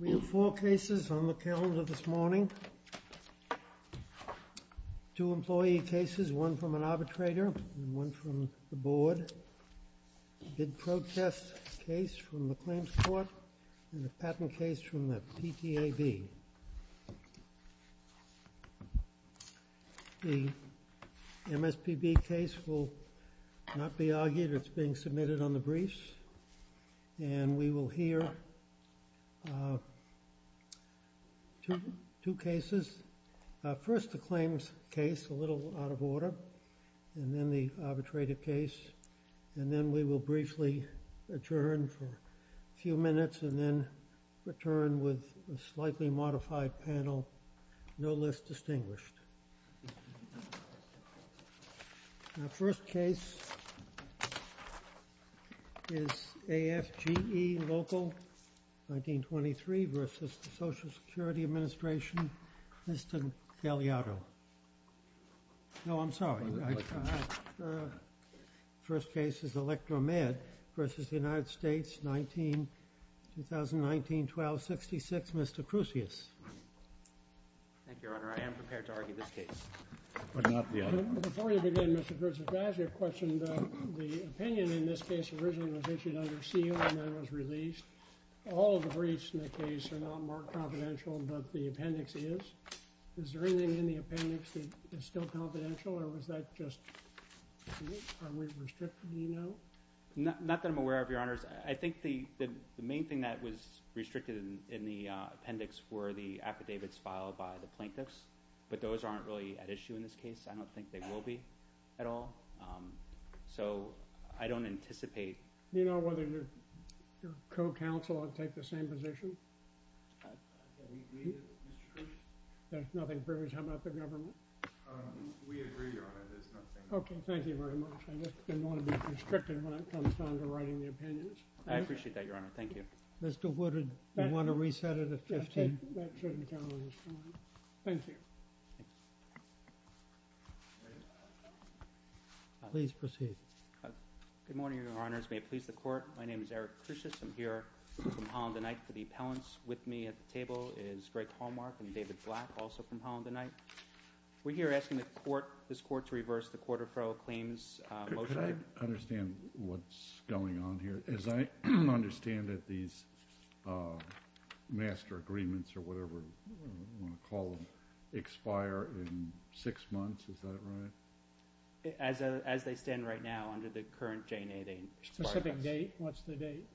We have four cases on the calendar this morning. Two employee cases, one from an arbitrator and one from the board. The bid protest case from the claims court and the patent case from the PTAB. The MSPB case will not be argued, it's being submitted on the briefs and we will hear two cases. First the claims case, a little out of order, and then the arbitrator case, and then we will briefly adjourn for a few minutes and then return with a slightly modified panel, no less distinguished. The first case is AFGE Local 1923 versus the Social First case is Electra-Med versus the United States 19, 2019-12-66, Mr. Krucius. Thank you, Your Honor. I am prepared to argue this case. Before you begin, Mr. Krucius, I'd like to ask you a question about the opinion in this case originally was issued under seal and then was released. All of the briefs in the case are not more confidential than the appendix is. Is there anything in the appendix that is still confidential or was that just, are we restricted, do you know? Not that I'm aware of, Your Honors. I think the main thing that was restricted in the appendix were the affidavits filed by the plaintiffs, but those aren't really at issue in this case. I don't think they will be at all. So I don't anticipate. Do you know whether your co-counsel would take the same position? I agree with you, Mr. Krucius. There's nothing previous. How about the government? We agree, Your Honor, there's nothing. Okay, thank you very much. I just didn't want to be restricted when it comes down to writing the opinions. I appreciate that, Your Honor. Thank you. Mr. Woodard, do you want to reset it at 15? That shouldn't count on this one. Thank you. Please proceed. Good morning, Your Honors. May it please the Court. My name is Eric Krucius. I'm here from Holland and Knight for the appellants. With me at the table is Greg Hallmark and David Black, also from Holland and Knight. We're here asking the Court, this Court, to reverse the quarter-final claims motion. Could I understand what's going on here? As I understand it, these master agreements or whatever, I want to call them, expire in six months, is that right? As they stand right now, under the current J&A, they expire. Specific date? What's the date?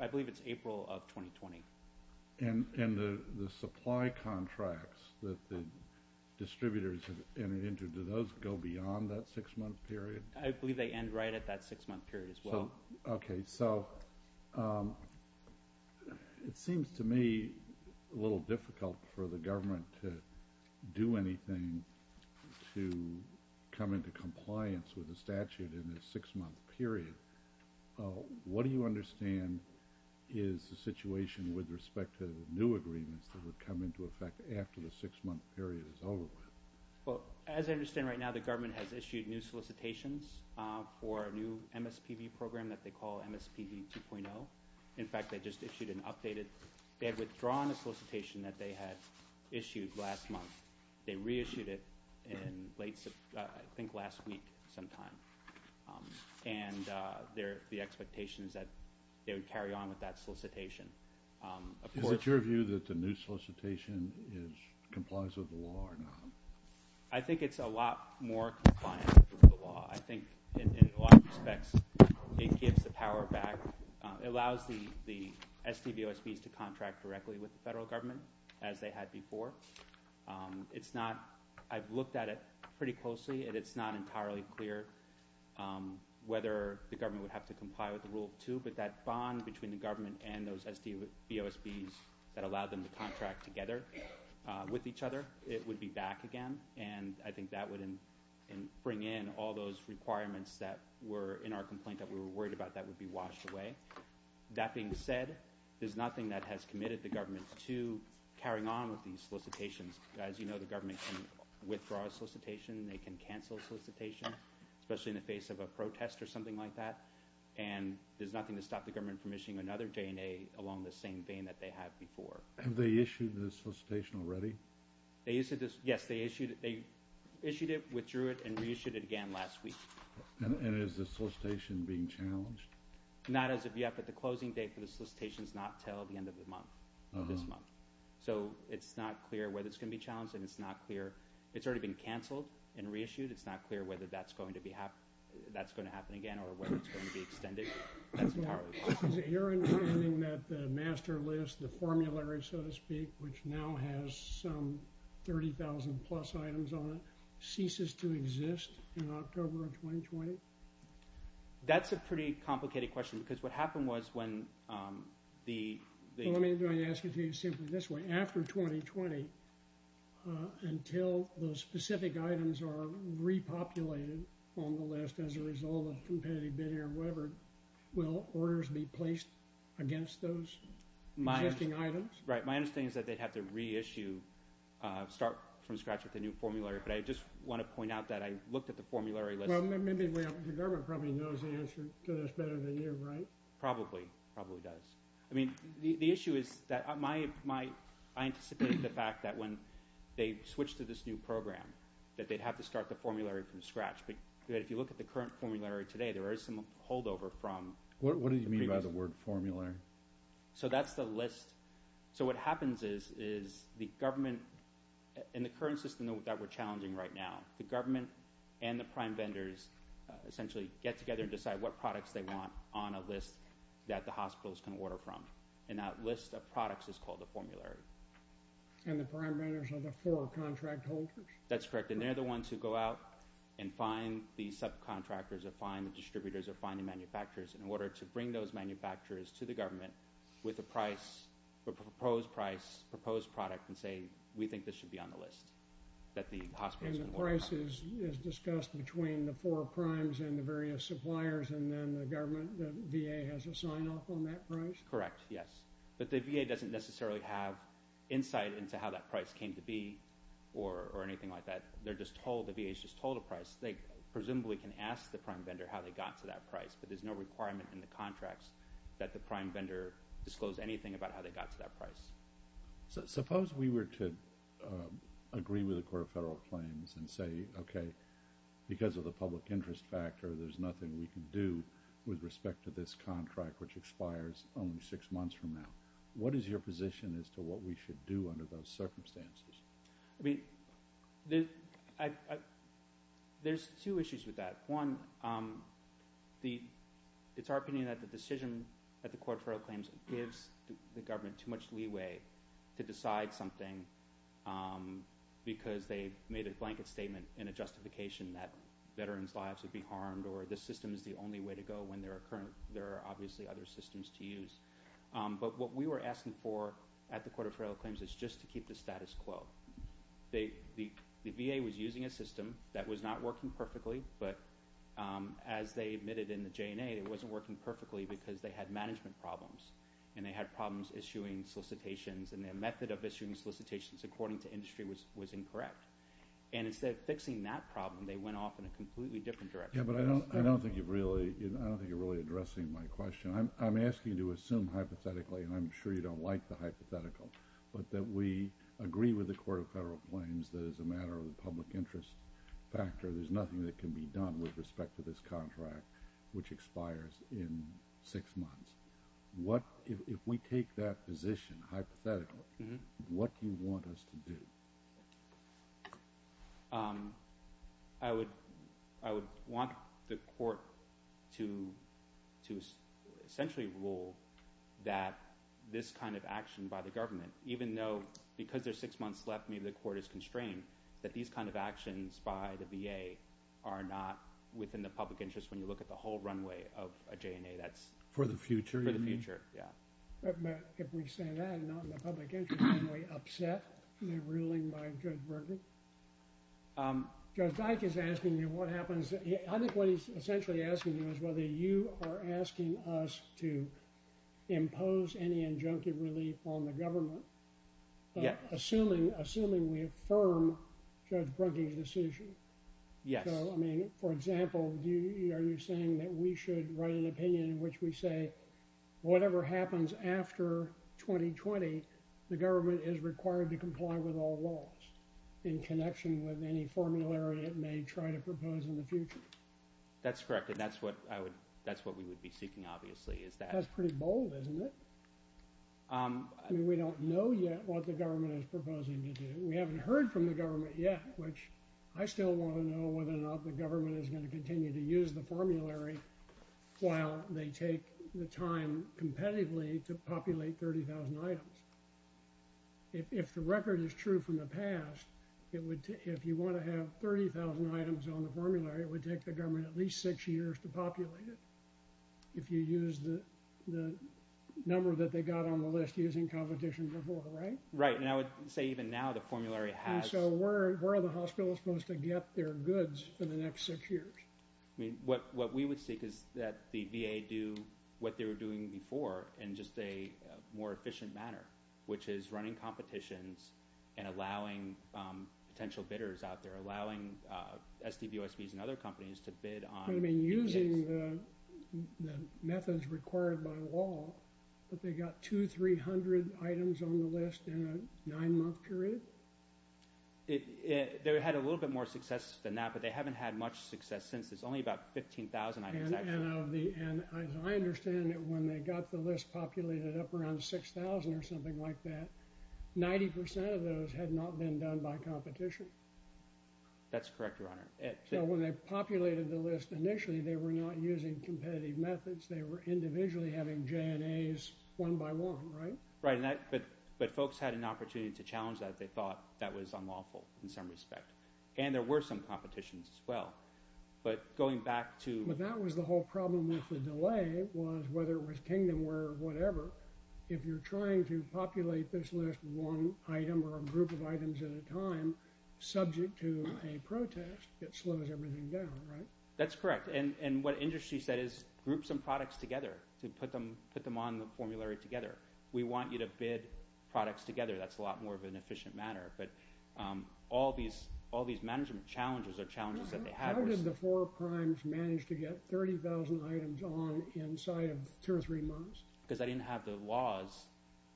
I believe it's April of 2020. And the supply contracts that the distributors have entered into, do those go beyond that six-month period? I believe they end right at that six-month period as well. Okay, so it seems to me a little difficult for the government to do anything to come into compliance with the statute in a six-month period. What do you understand is the situation with respect to new agreements that would come into effect after the six-month period is over with? Well, as I understand right now, the government has issued new solicitations for a new MSPB program that they call MSPB 2.0. In fact, they just issued an updated, they had withdrawn a solicitation that they had issued last month. They reissued it in late, I think last week sometime. And the expectation is that they would carry on with that solicitation. Is it your view that the new solicitation complies with the law or not? I think it's a lot more compliant with the law. I think in a lot of respects, it gives the power back. It allows the government to do as they had before. I've looked at it pretty closely and it's not entirely clear whether the government would have to comply with the Rule 2, but that bond between the government and those SBOSBs that allowed them to contract together with each other, it would be back again. And I think that would bring in all those requirements that were in our complaint that we were worried about that would be washed away. That being said, there's nothing that has committed the government to carrying out that new solicitation. They can carry on with these solicitations. As you know, the government can withdraw a solicitation. They can cancel a solicitation, especially in the face of a protest or something like that. And there's nothing to stop the government from issuing another J&A along the same vein that they had before. Have they issued the solicitation already? Yes, they issued it, withdrew it, and reissued it again last week. And is the solicitation being challenged? Not as of yet, but the closing date for the solicitation is not until the end of the month, this month. So it's not clear whether it's going to be challenged and it's not clear. It's already been canceled and reissued. It's not clear whether that's going to happen again or whether it's going to be extended. Is it your understanding that the master list, the formulary, so to speak, which now has some 30,000 plus items on it, ceases to exist in October of 2020? That's a pretty complicated question because what happened was when the... Let me ask you simply this way. After 2020, until those specific items are repopulated on the list as a result of competitive bidding or whatever, will orders be placed against those existing items? Right. My understanding is that they'd have to reissue, start from scratch with a new formulary. But I just want to point out that I looked at the formulary list. Well, maybe the government probably knows the answer to this better than you, right? Probably, probably does. I mean, the issue is that I anticipate the fact that when they switch to this new program, that they'd have to start the formulary from scratch. But if you look at the current formulary today, there is some holdover from... What do you mean by the word formulary? So that's the list. So what happens is the government, in the current system that we're challenging right now, the government and the prime vendors essentially get together and decide what products they want on a list that the hospitals can order from. And that list of products is called the formulary. And the prime vendors are the four contract holders? That's correct. And they're the ones who go out and find the subcontractors or find the distributors or find the manufacturers in order to bring those manufacturers to the government with a price, a proposed price, proposed product, and say, we think this should be on the list that the hospitals can order. And the price is discussed between the four primes and the various suppliers and then the government, the VA has a sign off on that price? Correct, yes. But the VA doesn't necessarily have insight into how that price came to be or anything like that. They're just told, the VA's just told a price. They presumably can ask the prime vendor how they got to that price, but there's no requirement in the contracts that the prime vendor disclose anything about how they got to that price. Suppose we were to agree with the Court of Federal Claims and say, okay, because of the public interest factor, there's nothing we can do with respect to this contract, which expires only six months from now. What is your position as to what we should do under those circumstances? There's two issues with that. One, it's our opinion that the decision at the Court of Federal Claims gives the government too much leeway to decide something because they made a blanket statement in a justification that veterans' lives would be harmed or this system is the only way to go when there are obviously other systems to use. But what we were asking for at the Court of Federal Claims is just to keep the status quo. The VA was using a system that was not working perfectly, but as they admitted in the J&A, it wasn't working perfectly because they had management problems and they had problems issuing solicitations and their method of issuing solicitations according to industry was incorrect. And instead of fixing that problem, they went off in a completely different direction. Yeah, but I don't think you're really addressing my question. I'm asking you to assume hypothetically, and I'm sure you don't like the hypothetical, but that we agree with the Court of Federal Claims that as a matter of the public interest factor, there's nothing that can be done with respect to this contract, which expires in six months. If we take that position hypothetically, what do you want us to do? I would want the court to essentially rule that this kind of action by the government, even though because there's six months left, maybe the court is constrained, that these kind of actions by the VA are not within the public interest when you look at the whole runway of a J&A that's for the future. But if we say that and not in the public interest, aren't we upset at the ruling by Judge Brugge? I think what he's essentially asking you is whether you are asking us to impose any injunctive relief on the government, assuming we affirm Judge Brugge's decision. Yes. I mean, for example, are you saying that we should write an opinion in which we say whatever happens after 2020, the government is required to comply with all laws in connection with any formulary it may try to propose in the future? That's correct, and that's what we would be seeking, obviously. That's pretty bold, isn't it? I mean, we don't know yet what the government is proposing to do. We haven't heard from the government yet, which I still want to know whether or not the government is going to continue to use the formulary while they take the time competitively to populate 30,000 items. If the record is true from the past, if you want to have 30,000 items on the formulary, it would take the government at least six years to populate it if you use the number that they got on the list using competition before, right? Right, and I would say even now the formulary has… And so where are the hospitals supposed to get their goods for the next six years? I mean, what we would seek is that the VA do what they were doing before in just a more efficient manner, which is running competitions and allowing potential bidders out there, allowing SDVOSBs and other companies to bid on… You mean using the methods required by law that they got 200, 300 items on the list in a nine-month period? They had a little bit more success than that, but they haven't had much success since. It's only about 15,000 items actually. And I understand that when they got the list populated up around 6,000 or something like that, 90% of those had not been done by competition. That's correct, Your Honor. So when they populated the list initially, they were not using competitive methods. They were individually having JNAs one by one, right? Right, but folks had an opportunity to challenge that. They thought that was unlawful in some respect. And there were some competitions as well, but going back to… But that was the whole problem with the delay was whether it was Kingdomware or whatever, if you're trying to populate this list one item or a group of items at a time, subject to a protest, it slows everything down, right? That's correct, and what industry said is group some products together to put them on the formulary together. We want you to bid products together. That's a lot more of an efficient manner, but all these management challenges or challenges that they had were… How did the four primes manage to get 30,000 items on inside of two or three months? Because they didn't have the laws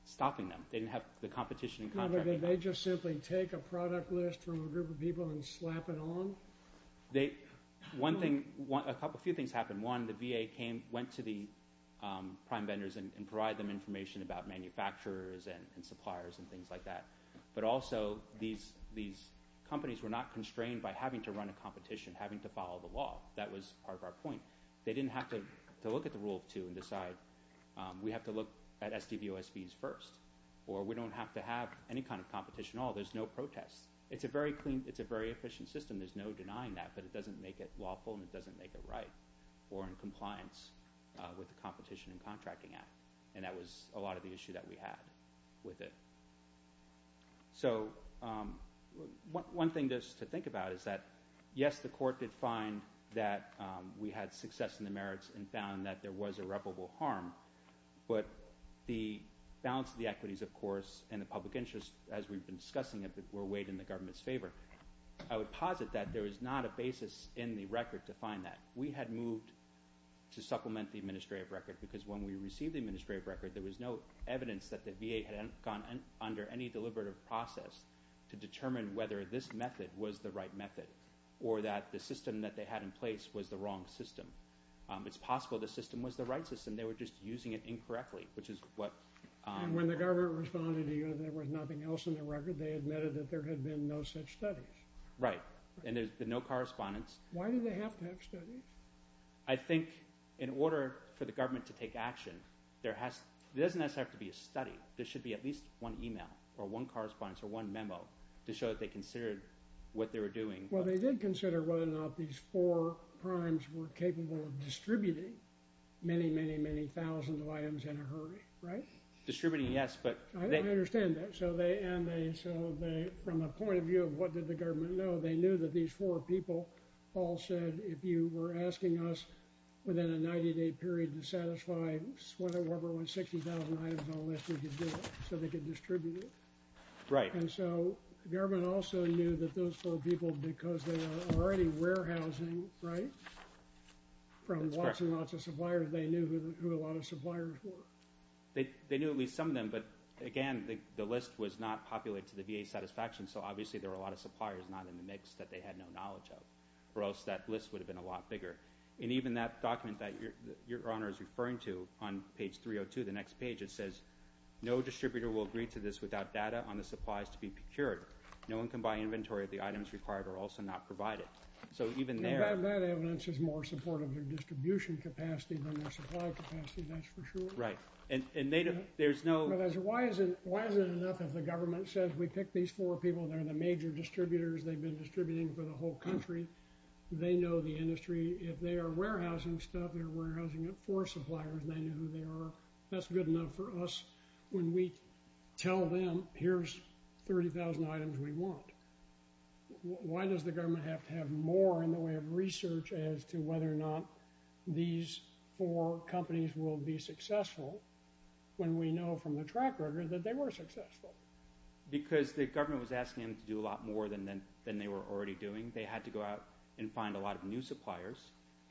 stopping them. They didn't have the competition in contracting. No, but did they just simply take a product list from a group of people and slap it on? A few things happened. One, the VA went to the prime vendors and provided them information about manufacturers and suppliers and things like that. But also, these companies were not constrained by having to run a competition, having to follow the law. That was part of our point. They didn't have to look at the rule of two and decide we have to look at SDVOSBs first, or we don't have to have any kind of competition at all. There's no protest. It's a very efficient system. There's no denying that, but it doesn't make it lawful and it doesn't make it right or in compliance with the Competition and Contracting Act. That was a lot of the issue that we had with it. One thing to think about is that, yes, the court did find that we had success in the merits and found that there was irreparable harm. But the balance of the equities, of course, and the public interest, as we've been discussing it, were weighed in the government's favor. I would posit that there was not a basis in the record to find that. We had moved to supplement the administrative record because when we received the administrative record, there was no evidence that the VA had gone under any deliberative process to determine whether this method was the right method or that the system that they had in place was the wrong system. It's possible the system was the right system. They were just using it incorrectly, which is what— And when the government responded to you that there was nothing else in the record, they admitted that there had been no such studies. Right, and there's been no correspondence. Why did they have to have studies? I think in order for the government to take action, there doesn't necessarily have to be a study. There should be at least one email or one correspondence or one memo to show that they considered what they were doing. Well, they did consider whether or not these four crimes were capable of distributing many, many, many thousands of items in a hurry, right? Distributing, yes, but— I understand that. And so from a point of view of what did the government know, they knew that these four people all said, if you were asking us within a 90-day period to satisfy whether or not there were 60,000 items on the list, we could do it so they could distribute it. Right. And so the government also knew that those four people, because they were already warehousing, right, from lots and lots of suppliers, they knew who a lot of suppliers were. They knew at least some of them, but again, the list was not populated to the VA satisfaction, so obviously there were a lot of suppliers not in the mix that they had no knowledge of, or else that list would have been a lot bigger. And even that document that Your Honor is referring to on page 302, the next page, it says, no distributor will agree to this without data on the supplies to be procured. No one can buy inventory if the items required are also not provided. So even there— That evidence is more supportive of their distribution capacity than their supply capacity, that's for sure. Right. And there's no— Why is it enough if the government says we picked these four people, they're the major distributors, they've been distributing for the whole country, they know the industry, if they are warehousing stuff, they're warehousing it for suppliers, they know who they are, that's good enough for us when we tell them here's 30,000 items we want. Why does the government have to have more in the way of research as to whether or not these four companies will be successful when we know from the track record that they were successful? Because the government was asking them to do a lot more than they were already doing. They had to go out and find a lot of new suppliers,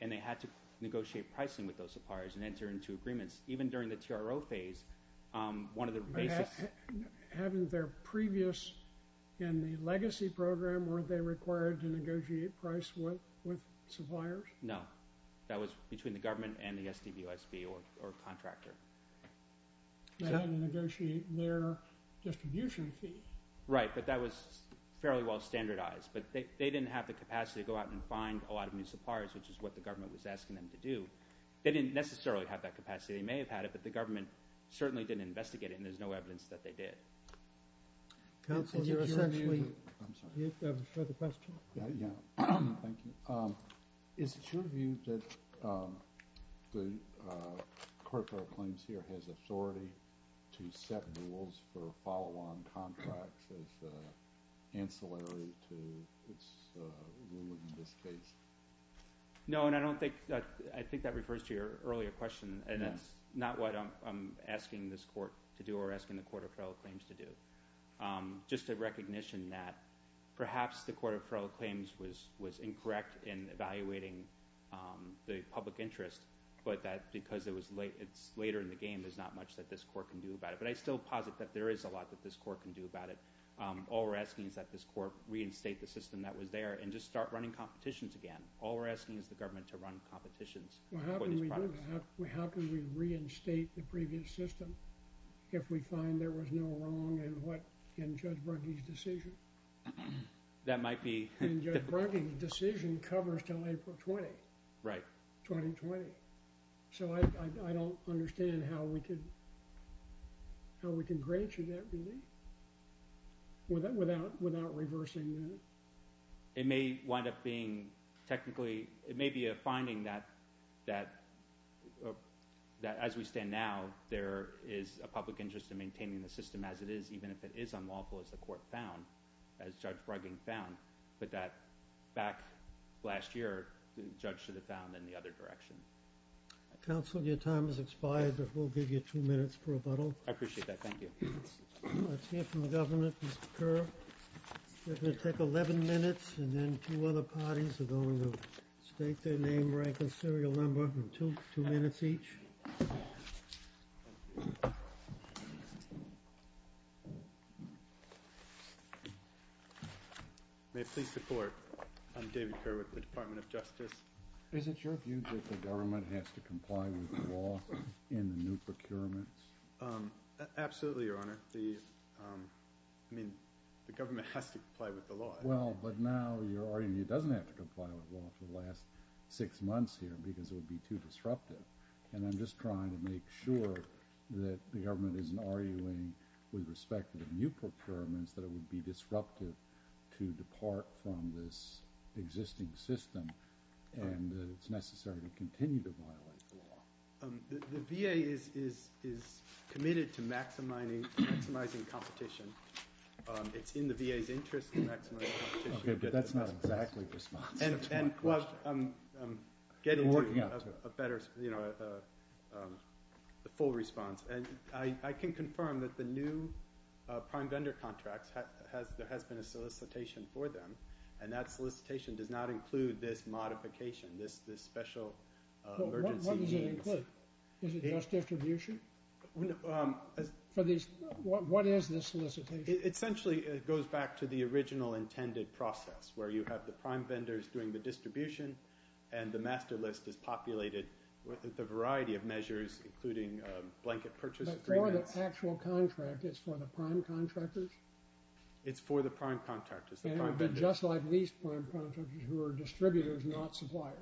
and they had to negotiate pricing with those suppliers and enter into agreements. Even during the TRO phase, one of the basics— Having their previous in the legacy program, weren't they required to negotiate price with suppliers? No. That was between the government and the SDVUSB or contractor. They had to negotiate their distribution fee. Right, but that was fairly well standardized. But they didn't have the capacity to go out and find a lot of new suppliers, which is what the government was asking them to do. They didn't necessarily have that capacity. They may have had it, but the government certainly didn't investigate it, and there's no evidence that they did. Counsel, is it your view— I'm sorry. You have a further question? Yeah, thank you. Is it your view that the Court of Federal Claims here has authority to set rules for follow-on contracts as ancillary to its rule in this case? No, and I don't think—I think that refers to your earlier question, and that's not what I'm asking this court to do or asking the Court of Federal Claims to do. Just a recognition that perhaps the Court of Federal Claims was incorrect in evaluating the public interest, but that because it's later in the game, there's not much that this court can do about it. But I still posit that there is a lot that this court can do about it. All we're asking is that this court reinstate the system that was there and just start running competitions again. All we're asking is the government to run competitions for these products. How can we reinstate the previous system if we find there was no wrong in Judge Brunkie's decision? That might be— And Judge Brunkie's decision covers until April 20. Right. 2020. So I don't understand how we can grant you that relief without reversing it. It may wind up being technically—it may be a finding that as we stand now, there is a public interest in maintaining the system as it is, even if it is unlawful as the court found, as Judge Brugging found, but that back last year, the judge should have found in the other direction. Counsel, your time has expired, but we'll give you two minutes for rebuttal. I appreciate that. Thank you. Let's hear from the government, Mr. Kerr. We're going to take 11 minutes, and then two other parties are going to state their name, rank, and serial number. Two minutes each. May I please support? I'm David Kerr with the Department of Justice. Is it your view that the government has to comply with the law in the new procurements? Absolutely, Your Honor. I mean, the government has to comply with the law. Well, but now your argument is it doesn't have to comply with the law for the last six months here because it would be too disruptive, and I'm just trying to make sure that the government isn't arguing with respect to the new procurements that it would be disruptive to depart from this existing system and that it's necessary to continue to violate the law. The VA is committed to maximizing competition. It's in the VA's interest to maximize competition. Okay, but that's not exactly the response. Well, I'm getting to a better, you know, a full response. And I can confirm that the new prime vendor contracts, there has been a solicitation for them, and that solicitation does not include this modification, this special emergency. What does it include? Is it just distribution? What is this solicitation? Essentially, it goes back to the original intended process where you have the prime vendors doing the distribution and the master list is populated with a variety of measures including blanket purchase agreements. But for the actual contract, it's for the prime contractors? It's for the prime contractors. And it would be just like these prime contractors who are distributors, not suppliers?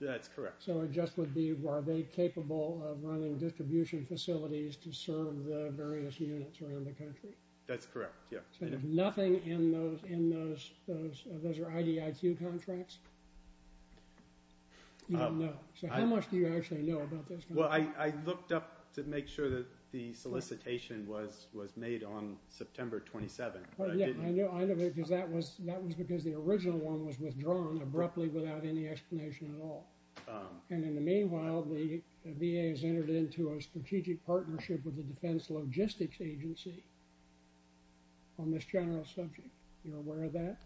That's correct. So it just would be are they capable of running distribution facilities to serve the various units around the country? That's correct, yeah. So there's nothing in those? Those are IDIQ contracts? You don't know. So how much do you actually know about those contracts? Well, I looked up to make sure that the solicitation was made on September 27th. I know because that was because the original one was withdrawn abruptly without any explanation at all. And in the meanwhile, the VA has entered into a strategic partnership with the Defense Logistics Agency on this general subject. You're aware of that?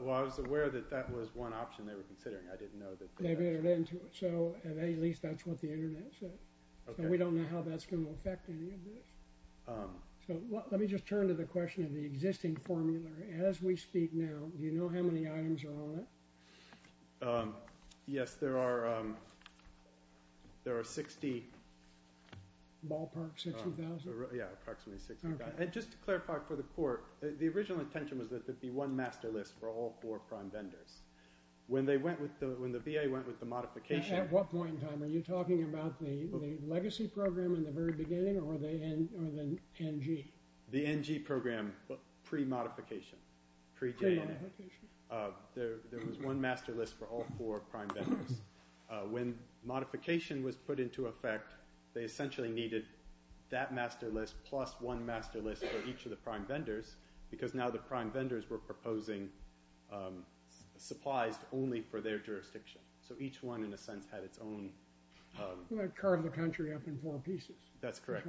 Well, I was aware that that was one option they were considering. I didn't know that they actually… They've entered into it. So at least that's what the Internet says. Okay. So we don't know how that's going to affect any of this. So let me just turn to the question of the existing formula. As we speak now, do you know how many items are on it? Yes, there are 60. Ballparks at 2,000? Yeah, approximately 60. Okay. And just to clarify for the court, the original intention was that there be one master list for all four prime vendors. When the VA went with the modification… At what point in time? Are you talking about the legacy program in the very beginning or the NG? The NG program pre-modification. Pre-modification. There was one master list for all four prime vendors. When modification was put into effect, they essentially needed that master list plus one master list for each of the prime vendors because now the prime vendors were proposing supplies only for their jurisdiction. So each one, in a sense, had its own… Well, it carved the country up in four pieces. That's correct.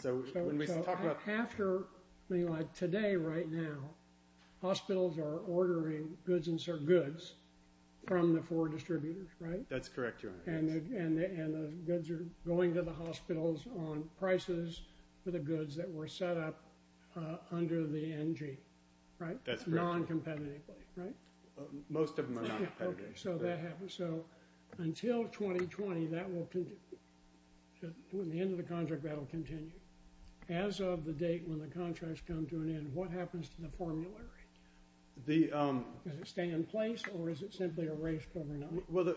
So when we talk about… So after, like today right now, hospitals are ordering goods from the four distributors, right? That's correct, Your Honor. And the goods are going to the hospitals on prices for the goods that were set up under the NG, right? That's correct. Noncompetitively, right? Most of them are not competitive. Okay, so that happens. So until 2020, that will continue. When the end of the contract, that will continue. As of the date when the contracts come to an end, what happens to the formulary? Does it stay in place or is it simply erased overnight? Well,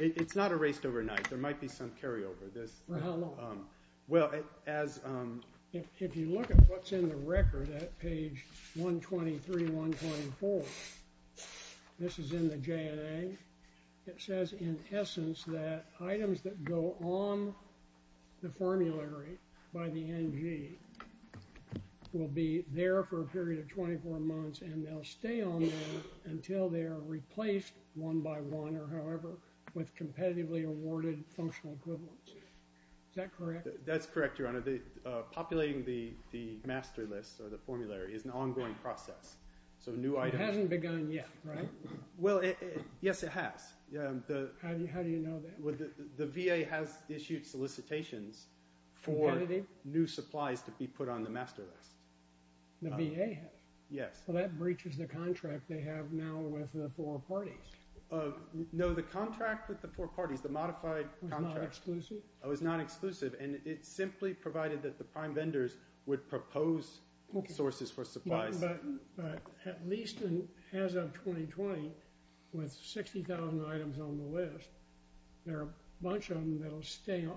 it's not erased overnight. There might be some carryover. For how long? Well, as… If you look at what's in the record at page 123, 124, this is in the JNA, it says in essence that items that go on the formulary by the NG will be there for a period of 24 months, and they'll stay on there until they are replaced one by one or however with competitively awarded functional equivalents. Is that correct? That's correct, Your Honor. Populating the master list or the formulary is an ongoing process. So new items… It hasn't begun yet, right? Well, yes, it has. How do you know that? The VA has issued solicitations for new supplies to be put on the master list. The VA has? Yes. Well, that breaches the contract they have now with the four parties. No, the contract with the four parties, the modified contract… Was not exclusive? It was not exclusive, and it simply provided that the prime vendors would propose sources for supplies. But at least as of 2020, with 60,000 items on the list, there are a bunch of them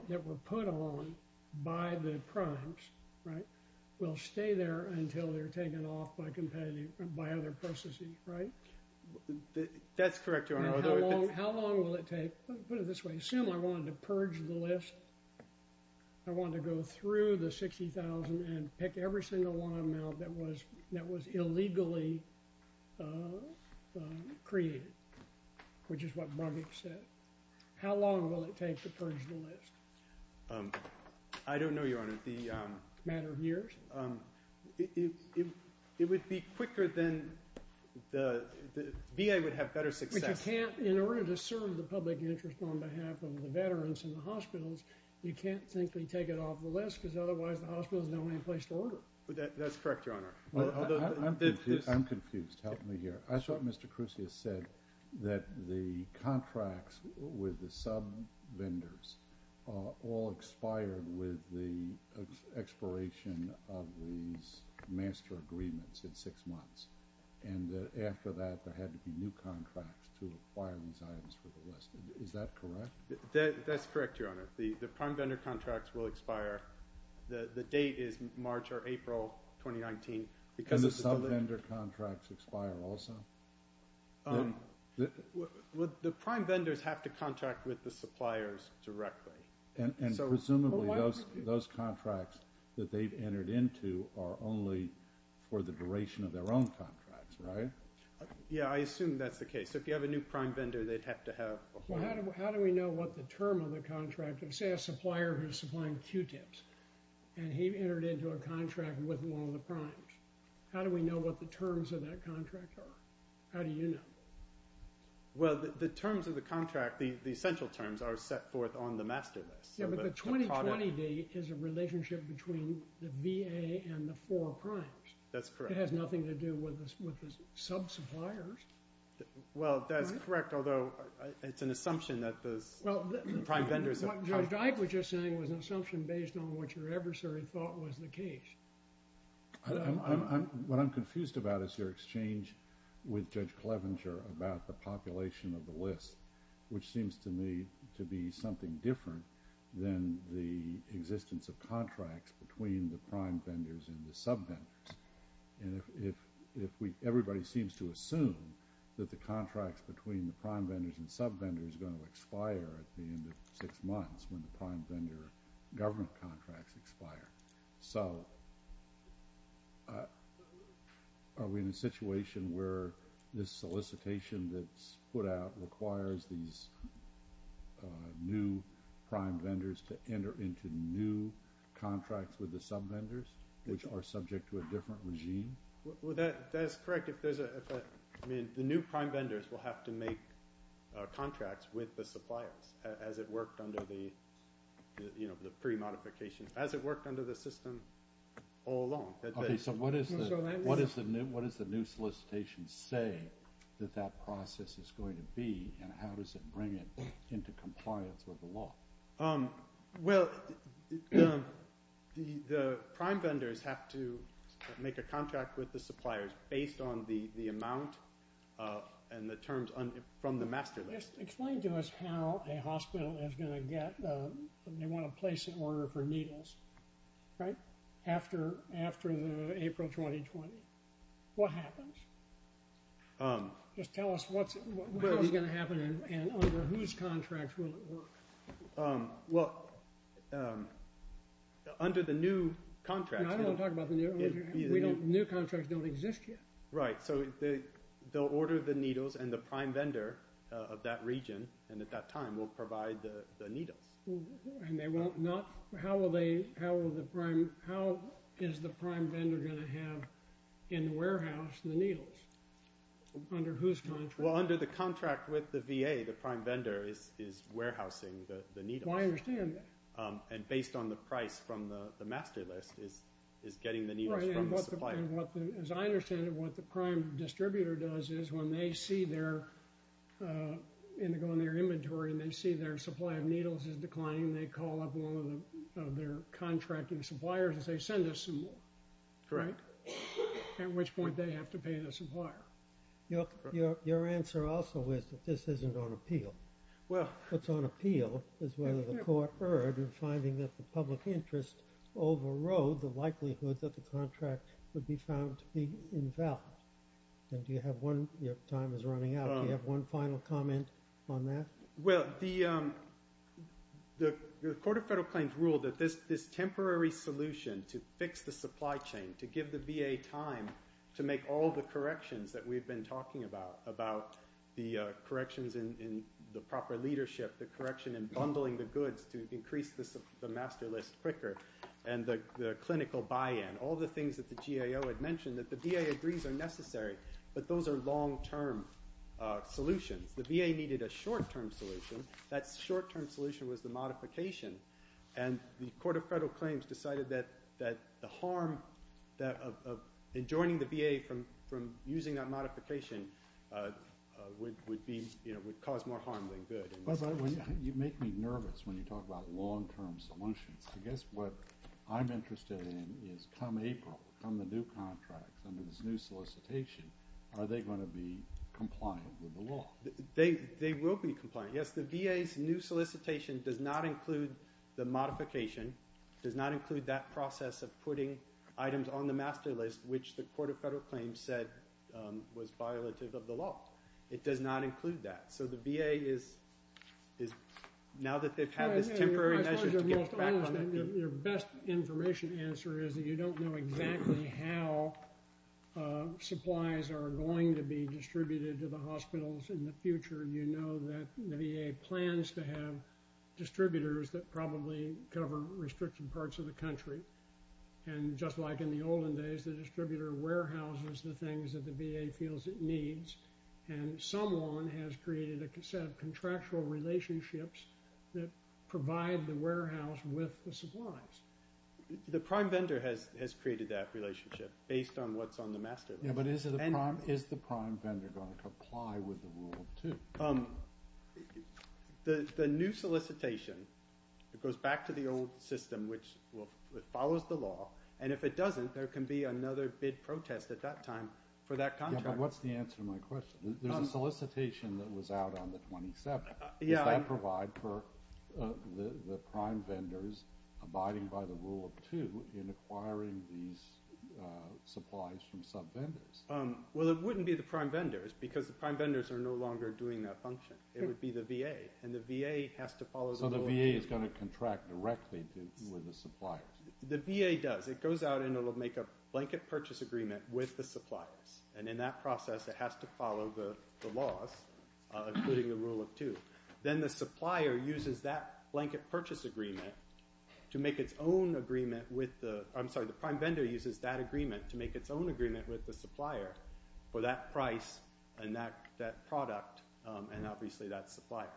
that were put on by the primes, right? Will stay there until they're taken off by other processes, right? That's correct, Your Honor. How long will it take? Put it this way. Assume I wanted to purge the list. I wanted to go through the 60,000 and pick every single one of them out that was illegally created, which is what Brugge said. How long will it take to purge the list? I don't know, Your Honor. A matter of years? It would be quicker than the – the VA would have better success. But you can't – in order to serve the public interest on behalf of the veterans in the hospitals, you can't simply take it off the list because otherwise the hospital has no place to order. That's correct, Your Honor. I'm confused. Help me here. I saw what Mr. Crusius said, that the contracts with the sub-vendors all expired with the expiration of these master agreements in six months, and that after that there had to be new contracts to acquire these items for the list. Is that correct? That's correct, Your Honor. The prime vendor contracts will expire. The date is March or April 2019. And the sub-vendor contracts expire also? The prime vendors have to contract with the suppliers directly. And presumably those contracts that they've entered into are only for the duration of their own contracts, right? Yeah, I assume that's the case. So if you have a new prime vendor, they'd have to have – Well, how do we know what the term of the contract is? Say a supplier who's supplying Q-tips, and he entered into a contract with one of the primes. How do we know what the terms of that contract are? How do you know? Well, the terms of the contract, the essential terms, are set forth on the master list. Yeah, but the 2020D is a relationship between the VA and the four primes. That's correct. It has nothing to do with the sub-suppliers. Well, that's correct, although it's an assumption that the prime vendors have – What Judge Ike was just saying was an assumption based on what your adversary thought was the case. What I'm confused about is your exchange with Judge Clevenger about the population of the list, which seems to me to be something different than the existence of contracts between the prime vendors and the sub-vendors. Everybody seems to assume that the contracts between the prime vendors and sub-vendors are going to expire at the end of six months when the prime vendor government contracts expire. So are we in a situation where this solicitation that's put out requires these new prime vendors to enter into new contracts with the sub-vendors, which are subject to a different regime? Well, that's correct. The new prime vendors will have to make contracts with the suppliers as it worked under the pre-modification – as it worked under the system all along. Okay, so what does the new solicitation say that that process is going to be and how does it bring it into compliance with the law? Well, the prime vendors have to make a contract with the suppliers based on the amount and the terms from the master list. Explain to us how a hospital is going to get – they want to place an order for needles, right? After April 2020. What happens? Just tell us what's going to happen and under whose contracts will it work? Well, under the new contracts – I don't want to talk about the new contracts. New contracts don't exist yet. Right. So they'll order the needles and the prime vendor of that region and at that time will provide the needles. And they won't – not – how will they – how is the prime vendor going to have in the warehouse the needles? Under whose contract? Well, under the contract with the VA. The prime vendor is warehousing the needles. I understand that. And based on the price from the master list is getting the needles from the supplier. As I understand it, what the prime distributor does is when they see their – they go in their inventory and they see their supply of needles is declining, they call up one of their contracting suppliers and say send us some more. Correct. At which point they have to pay the supplier. Your answer also is that this isn't on appeal. What's on appeal is whether the court erred in finding that the public interest overrode the likelihood that the contract would be found to be invalid. And do you have one – your time is running out. Do you have one final comment on that? Well, the Court of Federal Claims ruled that this temporary solution to fix the supply chain, to give the VA time to make all the corrections that we've been talking about, about the corrections in the proper leadership, the correction in bundling the goods to increase the master list quicker, and the clinical buy-in, all the things that the GAO had mentioned that the VA agrees are necessary, but those are long-term solutions. The VA needed a short-term solution. That short-term solution was the modification. And the Court of Federal Claims decided that the harm of enjoining the VA from using that modification would cause more harm than good. But you make me nervous when you talk about long-term solutions. I guess what I'm interested in is come April, come the new contract, come this new solicitation, are they going to be compliant with the law? They will be compliant. Yes, the VA's new solicitation does not include the modification, does not include that process of putting items on the master list, which the Court of Federal Claims said was violative of the law. It does not include that. So the VA is now that they've had this temporary measure to get back on it. Your best information answer is that you don't know exactly how supplies are going to be distributed to the hospitals in the future. You know that the VA plans to have distributors that probably cover restricted parts of the country. And just like in the olden days, the distributor warehouses the things that the VA feels it needs. And someone has created a set of contractual relationships that provide the warehouse with the supplies. The prime vendor has created that relationship based on what's on the master list. Yeah, but is the prime vendor going to comply with the Rule of Two? The new solicitation, it goes back to the old system, which follows the law, and if it doesn't, there can be another bid protest at that time for that contract. Yeah, but what's the answer to my question? There's a solicitation that was out on the 27th. Does that provide for the prime vendors abiding by the Rule of Two in acquiring these supplies from subvendors? Well, it wouldn't be the prime vendors because the prime vendors are no longer doing that function. It would be the VA, and the VA has to follow the Rule of Two. So the VA is going to contract directly with the suppliers? The VA does. It goes out and it will make a blanket purchase agreement with the suppliers. And in that process, it has to follow the laws, including the Rule of Two. Then the supplier uses that blanket purchase agreement to make its own agreement with the – I'm sorry, the prime vendor uses that agreement to make its own agreement with the supplier for that price and that product, and obviously that supplier.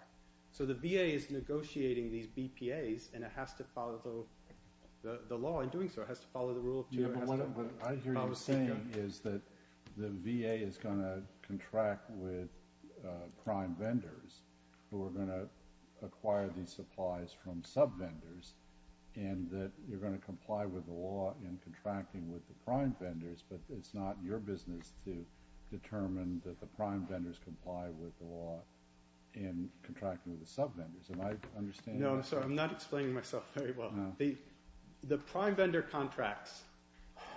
So the VA is negotiating these BPAs, and it has to follow the law in doing so. It has to follow the Rule of Two. I hear you saying is that the VA is going to contract with prime vendors who are going to acquire these supplies from subvendors and that you're going to comply with the law in contracting with the prime vendors, but it's not your business to determine that the prime vendors comply with the law in contracting with the subvendors. And I understand that. No, I'm sorry. I'm not explaining myself very well. The prime vendor contracts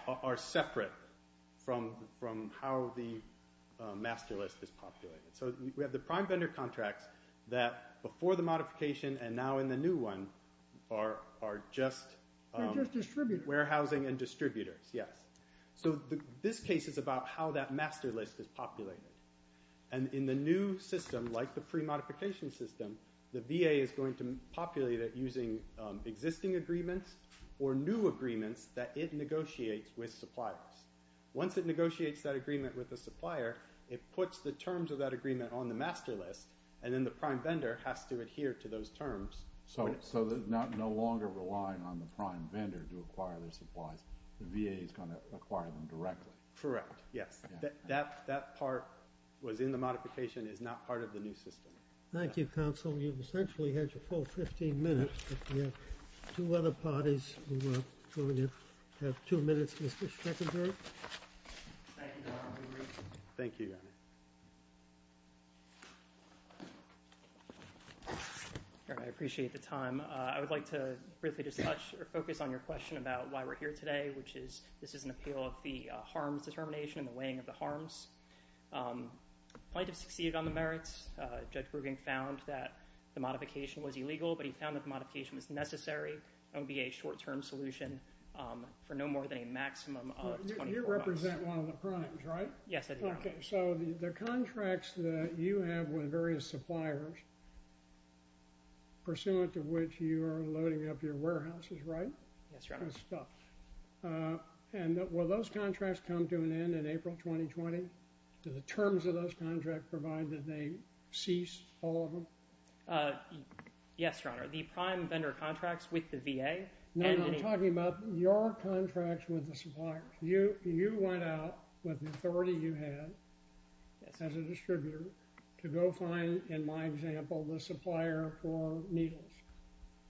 are separate from how the master list is populated. So we have the prime vendor contracts that before the modification and now in the new one are just warehousing and distributors, yes. So this case is about how that master list is populated. And in the new system, like the pre-modification system, the VA is going to populate it using existing agreements or new agreements that it negotiates with suppliers. Once it negotiates that agreement with the supplier, it puts the terms of that agreement on the master list, and then the prime vendor has to adhere to those terms. So they're no longer relying on the prime vendor to acquire their supplies. The VA is going to acquire them directly. Correct, yes. That part was in the modification. It's not part of the new system. Thank you, counsel. You've essentially had your full 15 minutes. We have two other parties who have two minutes. Mr. Schreckenberg. Thank you, Your Honor. Thank you, Your Honor. Your Honor, I appreciate the time. I would like to briefly discuss or focus on your question about why we're here today, which is this is an appeal of the harms determination and the weighing of the harms. Plaintiffs succeeded on the merits. Judge Grubing found that the modification was illegal, but he found that the modification was necessary and would be a short-term solution for no more than a maximum of 24 months. You represent one of the primes, right? Yes, I do. Okay. So the contracts that you have with various suppliers, pursuant to which you are loading up your warehouses, right? Yes, Your Honor. Good stuff. And will those contracts come to an end in April 2020? Yes, Your Honor. The prime vendor contracts with the VA? No, I'm talking about your contracts with the suppliers. You went out with the authority you had as a distributor to go find, in my example, the supplier for needles,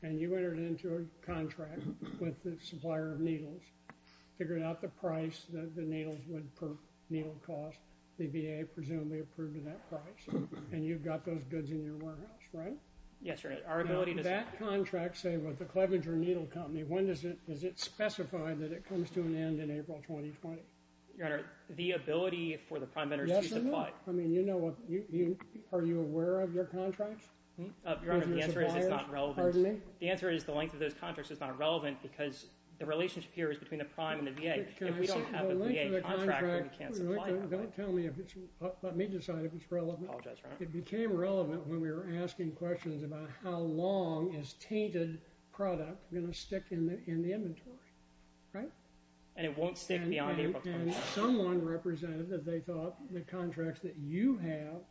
and you entered into a contract with the supplier of needles, figured out the price that the needles would per needle cost. The VA presumably approved that price, and you've got those goods in your warehouse, right? Yes, Your Honor. That contract, say, with the Clevenger Needle Company, when does it specify that it comes to an end in April 2020? Your Honor, the ability for the prime vendors to supply. I mean, are you aware of your contracts? Your Honor, the answer is it's not relevant. The answer is the length of those contracts is not relevant because the relationship here is between the prime and the VA. If we don't have a VA contract, then we can't supply that. Let me decide if it's relevant. I apologize, Your Honor. It became relevant when we were asking questions about how long is tainted product going to stick in the inventory, right? And it won't stick beyond April 20. And someone represented that they thought the contracts that you have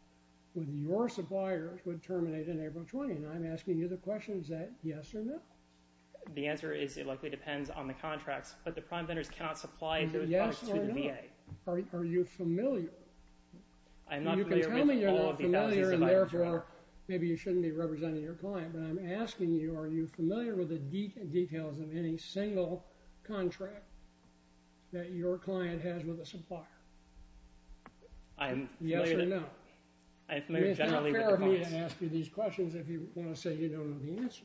with your suppliers would terminate in April 20, and I'm asking you the question, is that yes or no? The answer is it likely depends on the contracts, but the prime vendors cannot supply those products to the VA. Yes or no. Are you familiar? You can tell me you're not familiar, and therefore maybe you shouldn't be representing your client, but I'm asking you are you familiar with the details of any single contract that your client has with a supplier? Yes or no? It is not fair of me to ask you these questions if you want to say you don't know the answer.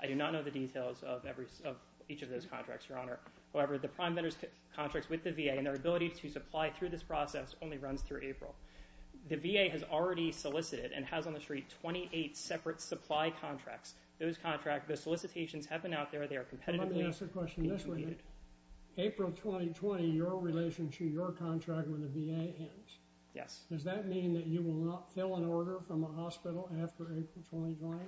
I do not know the details of each of those contracts, Your Honor. However, the prime vendors' contracts with the VA and their ability to supply through this process only runs through April. The VA has already solicited and has on the street 28 separate supply contracts. Those contracts, those solicitations have been out there. They are competitively competed. Let me ask a question this way. April 2020, your relationship, your contract with the VA ends. Yes. Does that mean that you will not fill an order from a hospital after April 2020?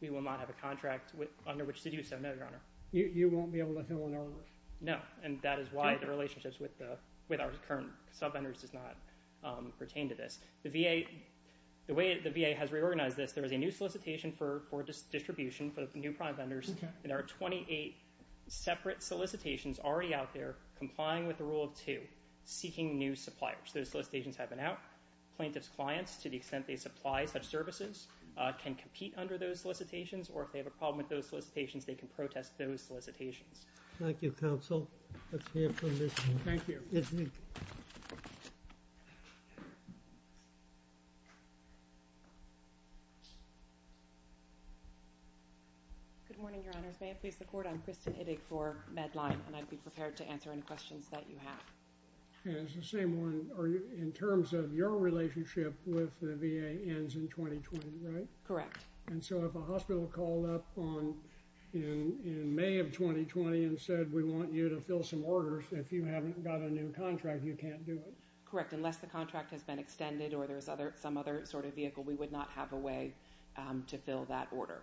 We will not have a contract under which to do so, no, Your Honor. You won't be able to fill an order? No, and that is why the relationships with our current subvendors does not pertain to this. The way the VA has reorganized this, there is a new solicitation for distribution for the new prime vendors, and there are 28 separate solicitations already out there complying with the rule of two, seeking new suppliers. Those solicitations have been out. Plaintiffs' clients, to the extent they supply such services, can compete under those solicitations, or if they have a problem with those solicitations, they can protest those solicitations. Thank you, Counsel. Let's hear from this one. Yes, ma'am. Good morning, Your Honors. May it please the Court? I'm Kristen Iddig for Medline, and I'd be prepared to answer any questions that you have. And it's the same one in terms of your relationship with the VA ends in 2020, right? Correct. And so if a hospital called up in May of 2020 and said, we want you to fill some orders, if you haven't got a new contract, you can't do it. Correct. Unless the contract has been extended or there's some other sort of vehicle, we would not have a way to fill that order.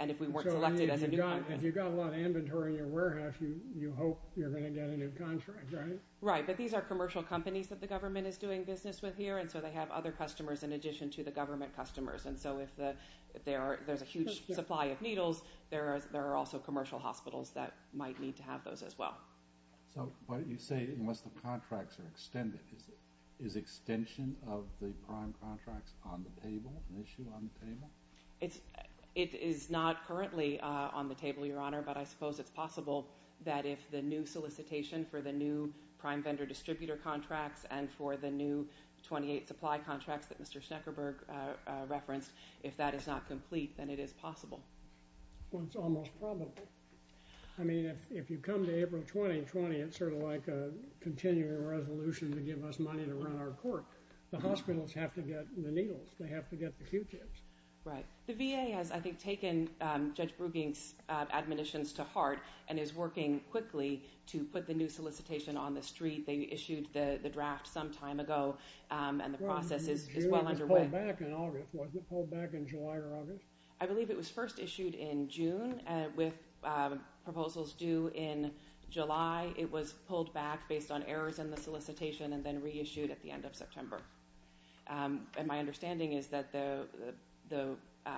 And if we weren't selected as a new contract. If you've got a lot of inventory in your warehouse, you hope you're going to get a new contract, right? Right. But these are commercial companies that the government is doing business with here, and so they have other customers in addition to the government customers. And so if there's a huge supply of needles, there are also commercial hospitals that might need to have those as well. So what you say, unless the contracts are extended, is extension of the prime contracts on the table, an issue on the table? It is not currently on the table, Your Honor, but I suppose it's possible that if the new solicitation for the new prime vendor distributor contracts and for the new 28 supply contracts that Mr. Schneckerberg referenced, if that is not complete, then it is possible. Well, it's almost probable. I mean, if you come to April 2020, it's sort of like a continuing resolution to give us money to run our court. The hospitals have to get the needles. They have to get the Q-tips. Right. The VA has, I think, taken Judge Bruegging's admonitions to heart and is working quickly to put the new solicitation on the street. They issued the draft some time ago, and the process is well under way. It was pulled back in August, wasn't it? Pulled back in July or August? I believe it was first issued in June with proposals due in July. It was pulled back based on errors in the solicitation and then reissued at the end of September. And my understanding is that the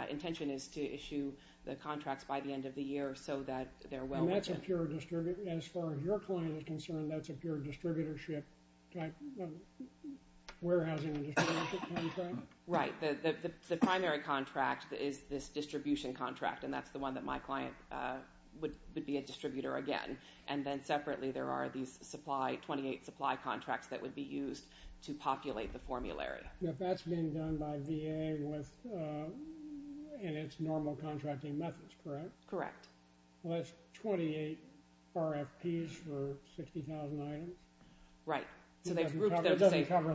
intention is to issue the contracts by the end of the year so that they're well within. As far as your client is concerned, that's a pure distributorship type of warehousing and distributorship contract? Right. The primary contract is this distribution contract, and that's the one that my client would be a distributor again. And then separately, there are these 28 supply contracts that would be used to populate the formulary. Now, that's being done by VA in its normal contracting methods, correct? Correct. Well, that's 28 RFPs for 60,000 items. Right. That doesn't cover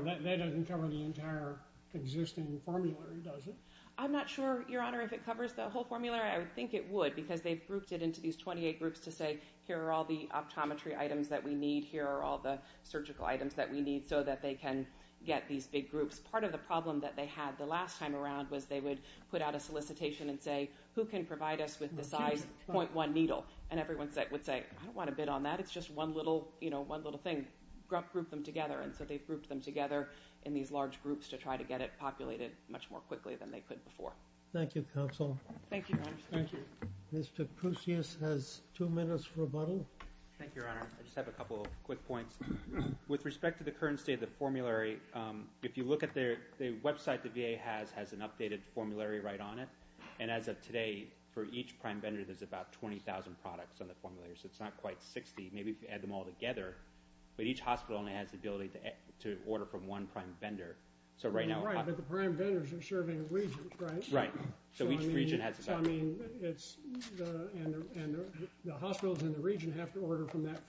the entire existing formulary, does it? I'm not sure, Your Honor, if it covers the whole formulary. I would think it would because they've grouped it into these 28 groups to say, here are all the optometry items that we need, here are all the surgical items that we need so that they can get these big groups. Part of the problem that they had the last time around was they would put out a solicitation and say, who can provide us with the size 0.1 needle? And everyone would say, I don't want to bid on that. It's just one little thing. Group them together. And so they've grouped them together in these large groups to try to get it populated much more quickly than they could before. Thank you, counsel. Thank you, Your Honor. Thank you. Mr. Kousias has two minutes for rebuttal. Thank you, Your Honor. I just have a couple of quick points. With respect to the current state of the formulary, if you look at the website the VA has, it has an updated formulary right on it. And as of today, for each prime vendor, there's about 20,000 products on the formulary. So it's not quite 60. Maybe if you add them all together. But each hospital only has the ability to order from one prime vendor. Right, but the prime vendors are serving regions, right? Right. So each region has a value. So, I mean, the hospitals in the region have to order from that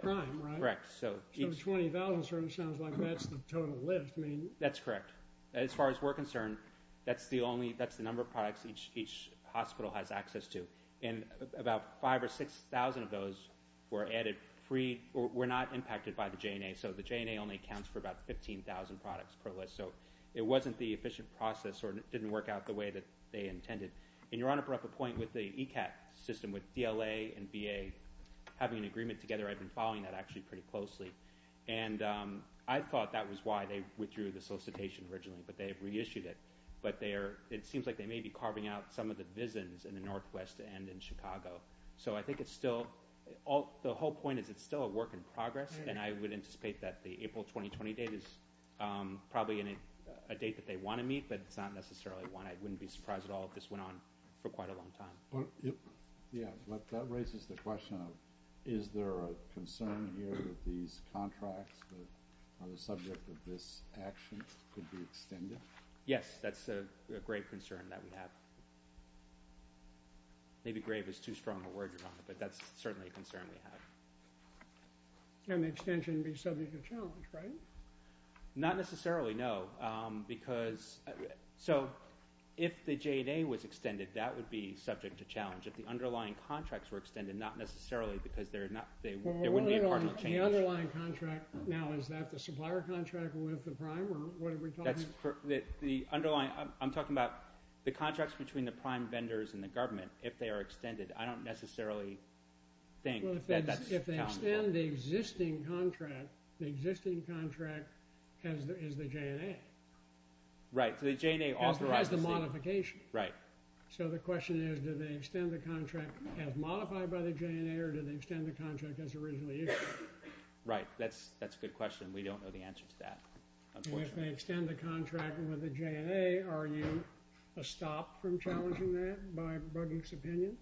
prime, right? Correct. So 20,000 sounds like that's the total list. That's correct. As far as we're concerned, that's the number of products each hospital has access to. And about 5,000 or 6,000 of those were added free or were not impacted by the J&A. So the J&A only accounts for about 15,000 products per list. So it wasn't the efficient process or it didn't work out the way that they intended. And Your Honor brought up a point with the ECAT system with DLA and VA having an agreement together. I've been following that actually pretty closely. And I thought that was why they withdrew the solicitation originally, but they reissued it. But it seems like they may be carving out some of the visions in the northwest and in Chicago. So I think it's still – the whole point is it's still a work in progress, and I would anticipate that the April 2020 date is probably a date that they want to meet, but it's not necessarily one I wouldn't be surprised at all if this went on for quite a long time. Yeah, that raises the question of is there a concern here that these contracts that are the subject of this action could be extended? Yes, that's a grave concern that we have. Maybe grave is too strong a word, Your Honor, but that's certainly a concern we have. And the extension would be subject to challenge, right? Not necessarily, no. Because – so if the J&A was extended, that would be subject to challenge. If the underlying contracts were extended, not necessarily because they're not – there wouldn't be a partial change. The underlying contract now, is that the supplier contract with the prime, or what are we talking about? The underlying – I'm talking about the contracts between the prime vendors and the government. If they are extended, I don't necessarily think that that's – If they extend the existing contract, the existing contract is the J&A. Right, so the J&A authorizes the modification. Right. So the question is do they extend the contract as modified by the J&A or do they extend the contract as originally issued? Right, that's a good question. We don't know the answer to that, unfortunately. If they extend the contract with the J&A, are you a stop from challenging that by Burge's opinion?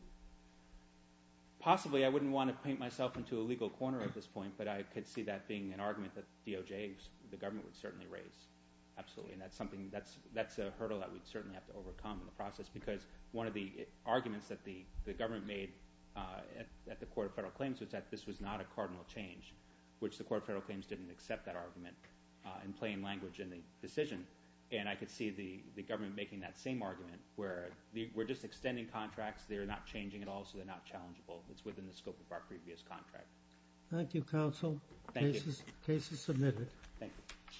Possibly. I wouldn't want to paint myself into a legal corner at this point, but I could see that being an argument that DOJ, the government, would certainly raise. Absolutely, and that's something – that's a hurdle that we'd certainly have to overcome in the process because one of the arguments that the government made at the Court of Federal Claims was that this was not a cardinal change, which the Court of Federal Claims didn't accept that argument in plain language in the decision. And I could see the government making that same argument where we're just extending contracts. They're not changing at all, so they're not challengeable. It's within the scope of our previous contract. Thank you, counsel. Thank you. Case is submitted. Thank you.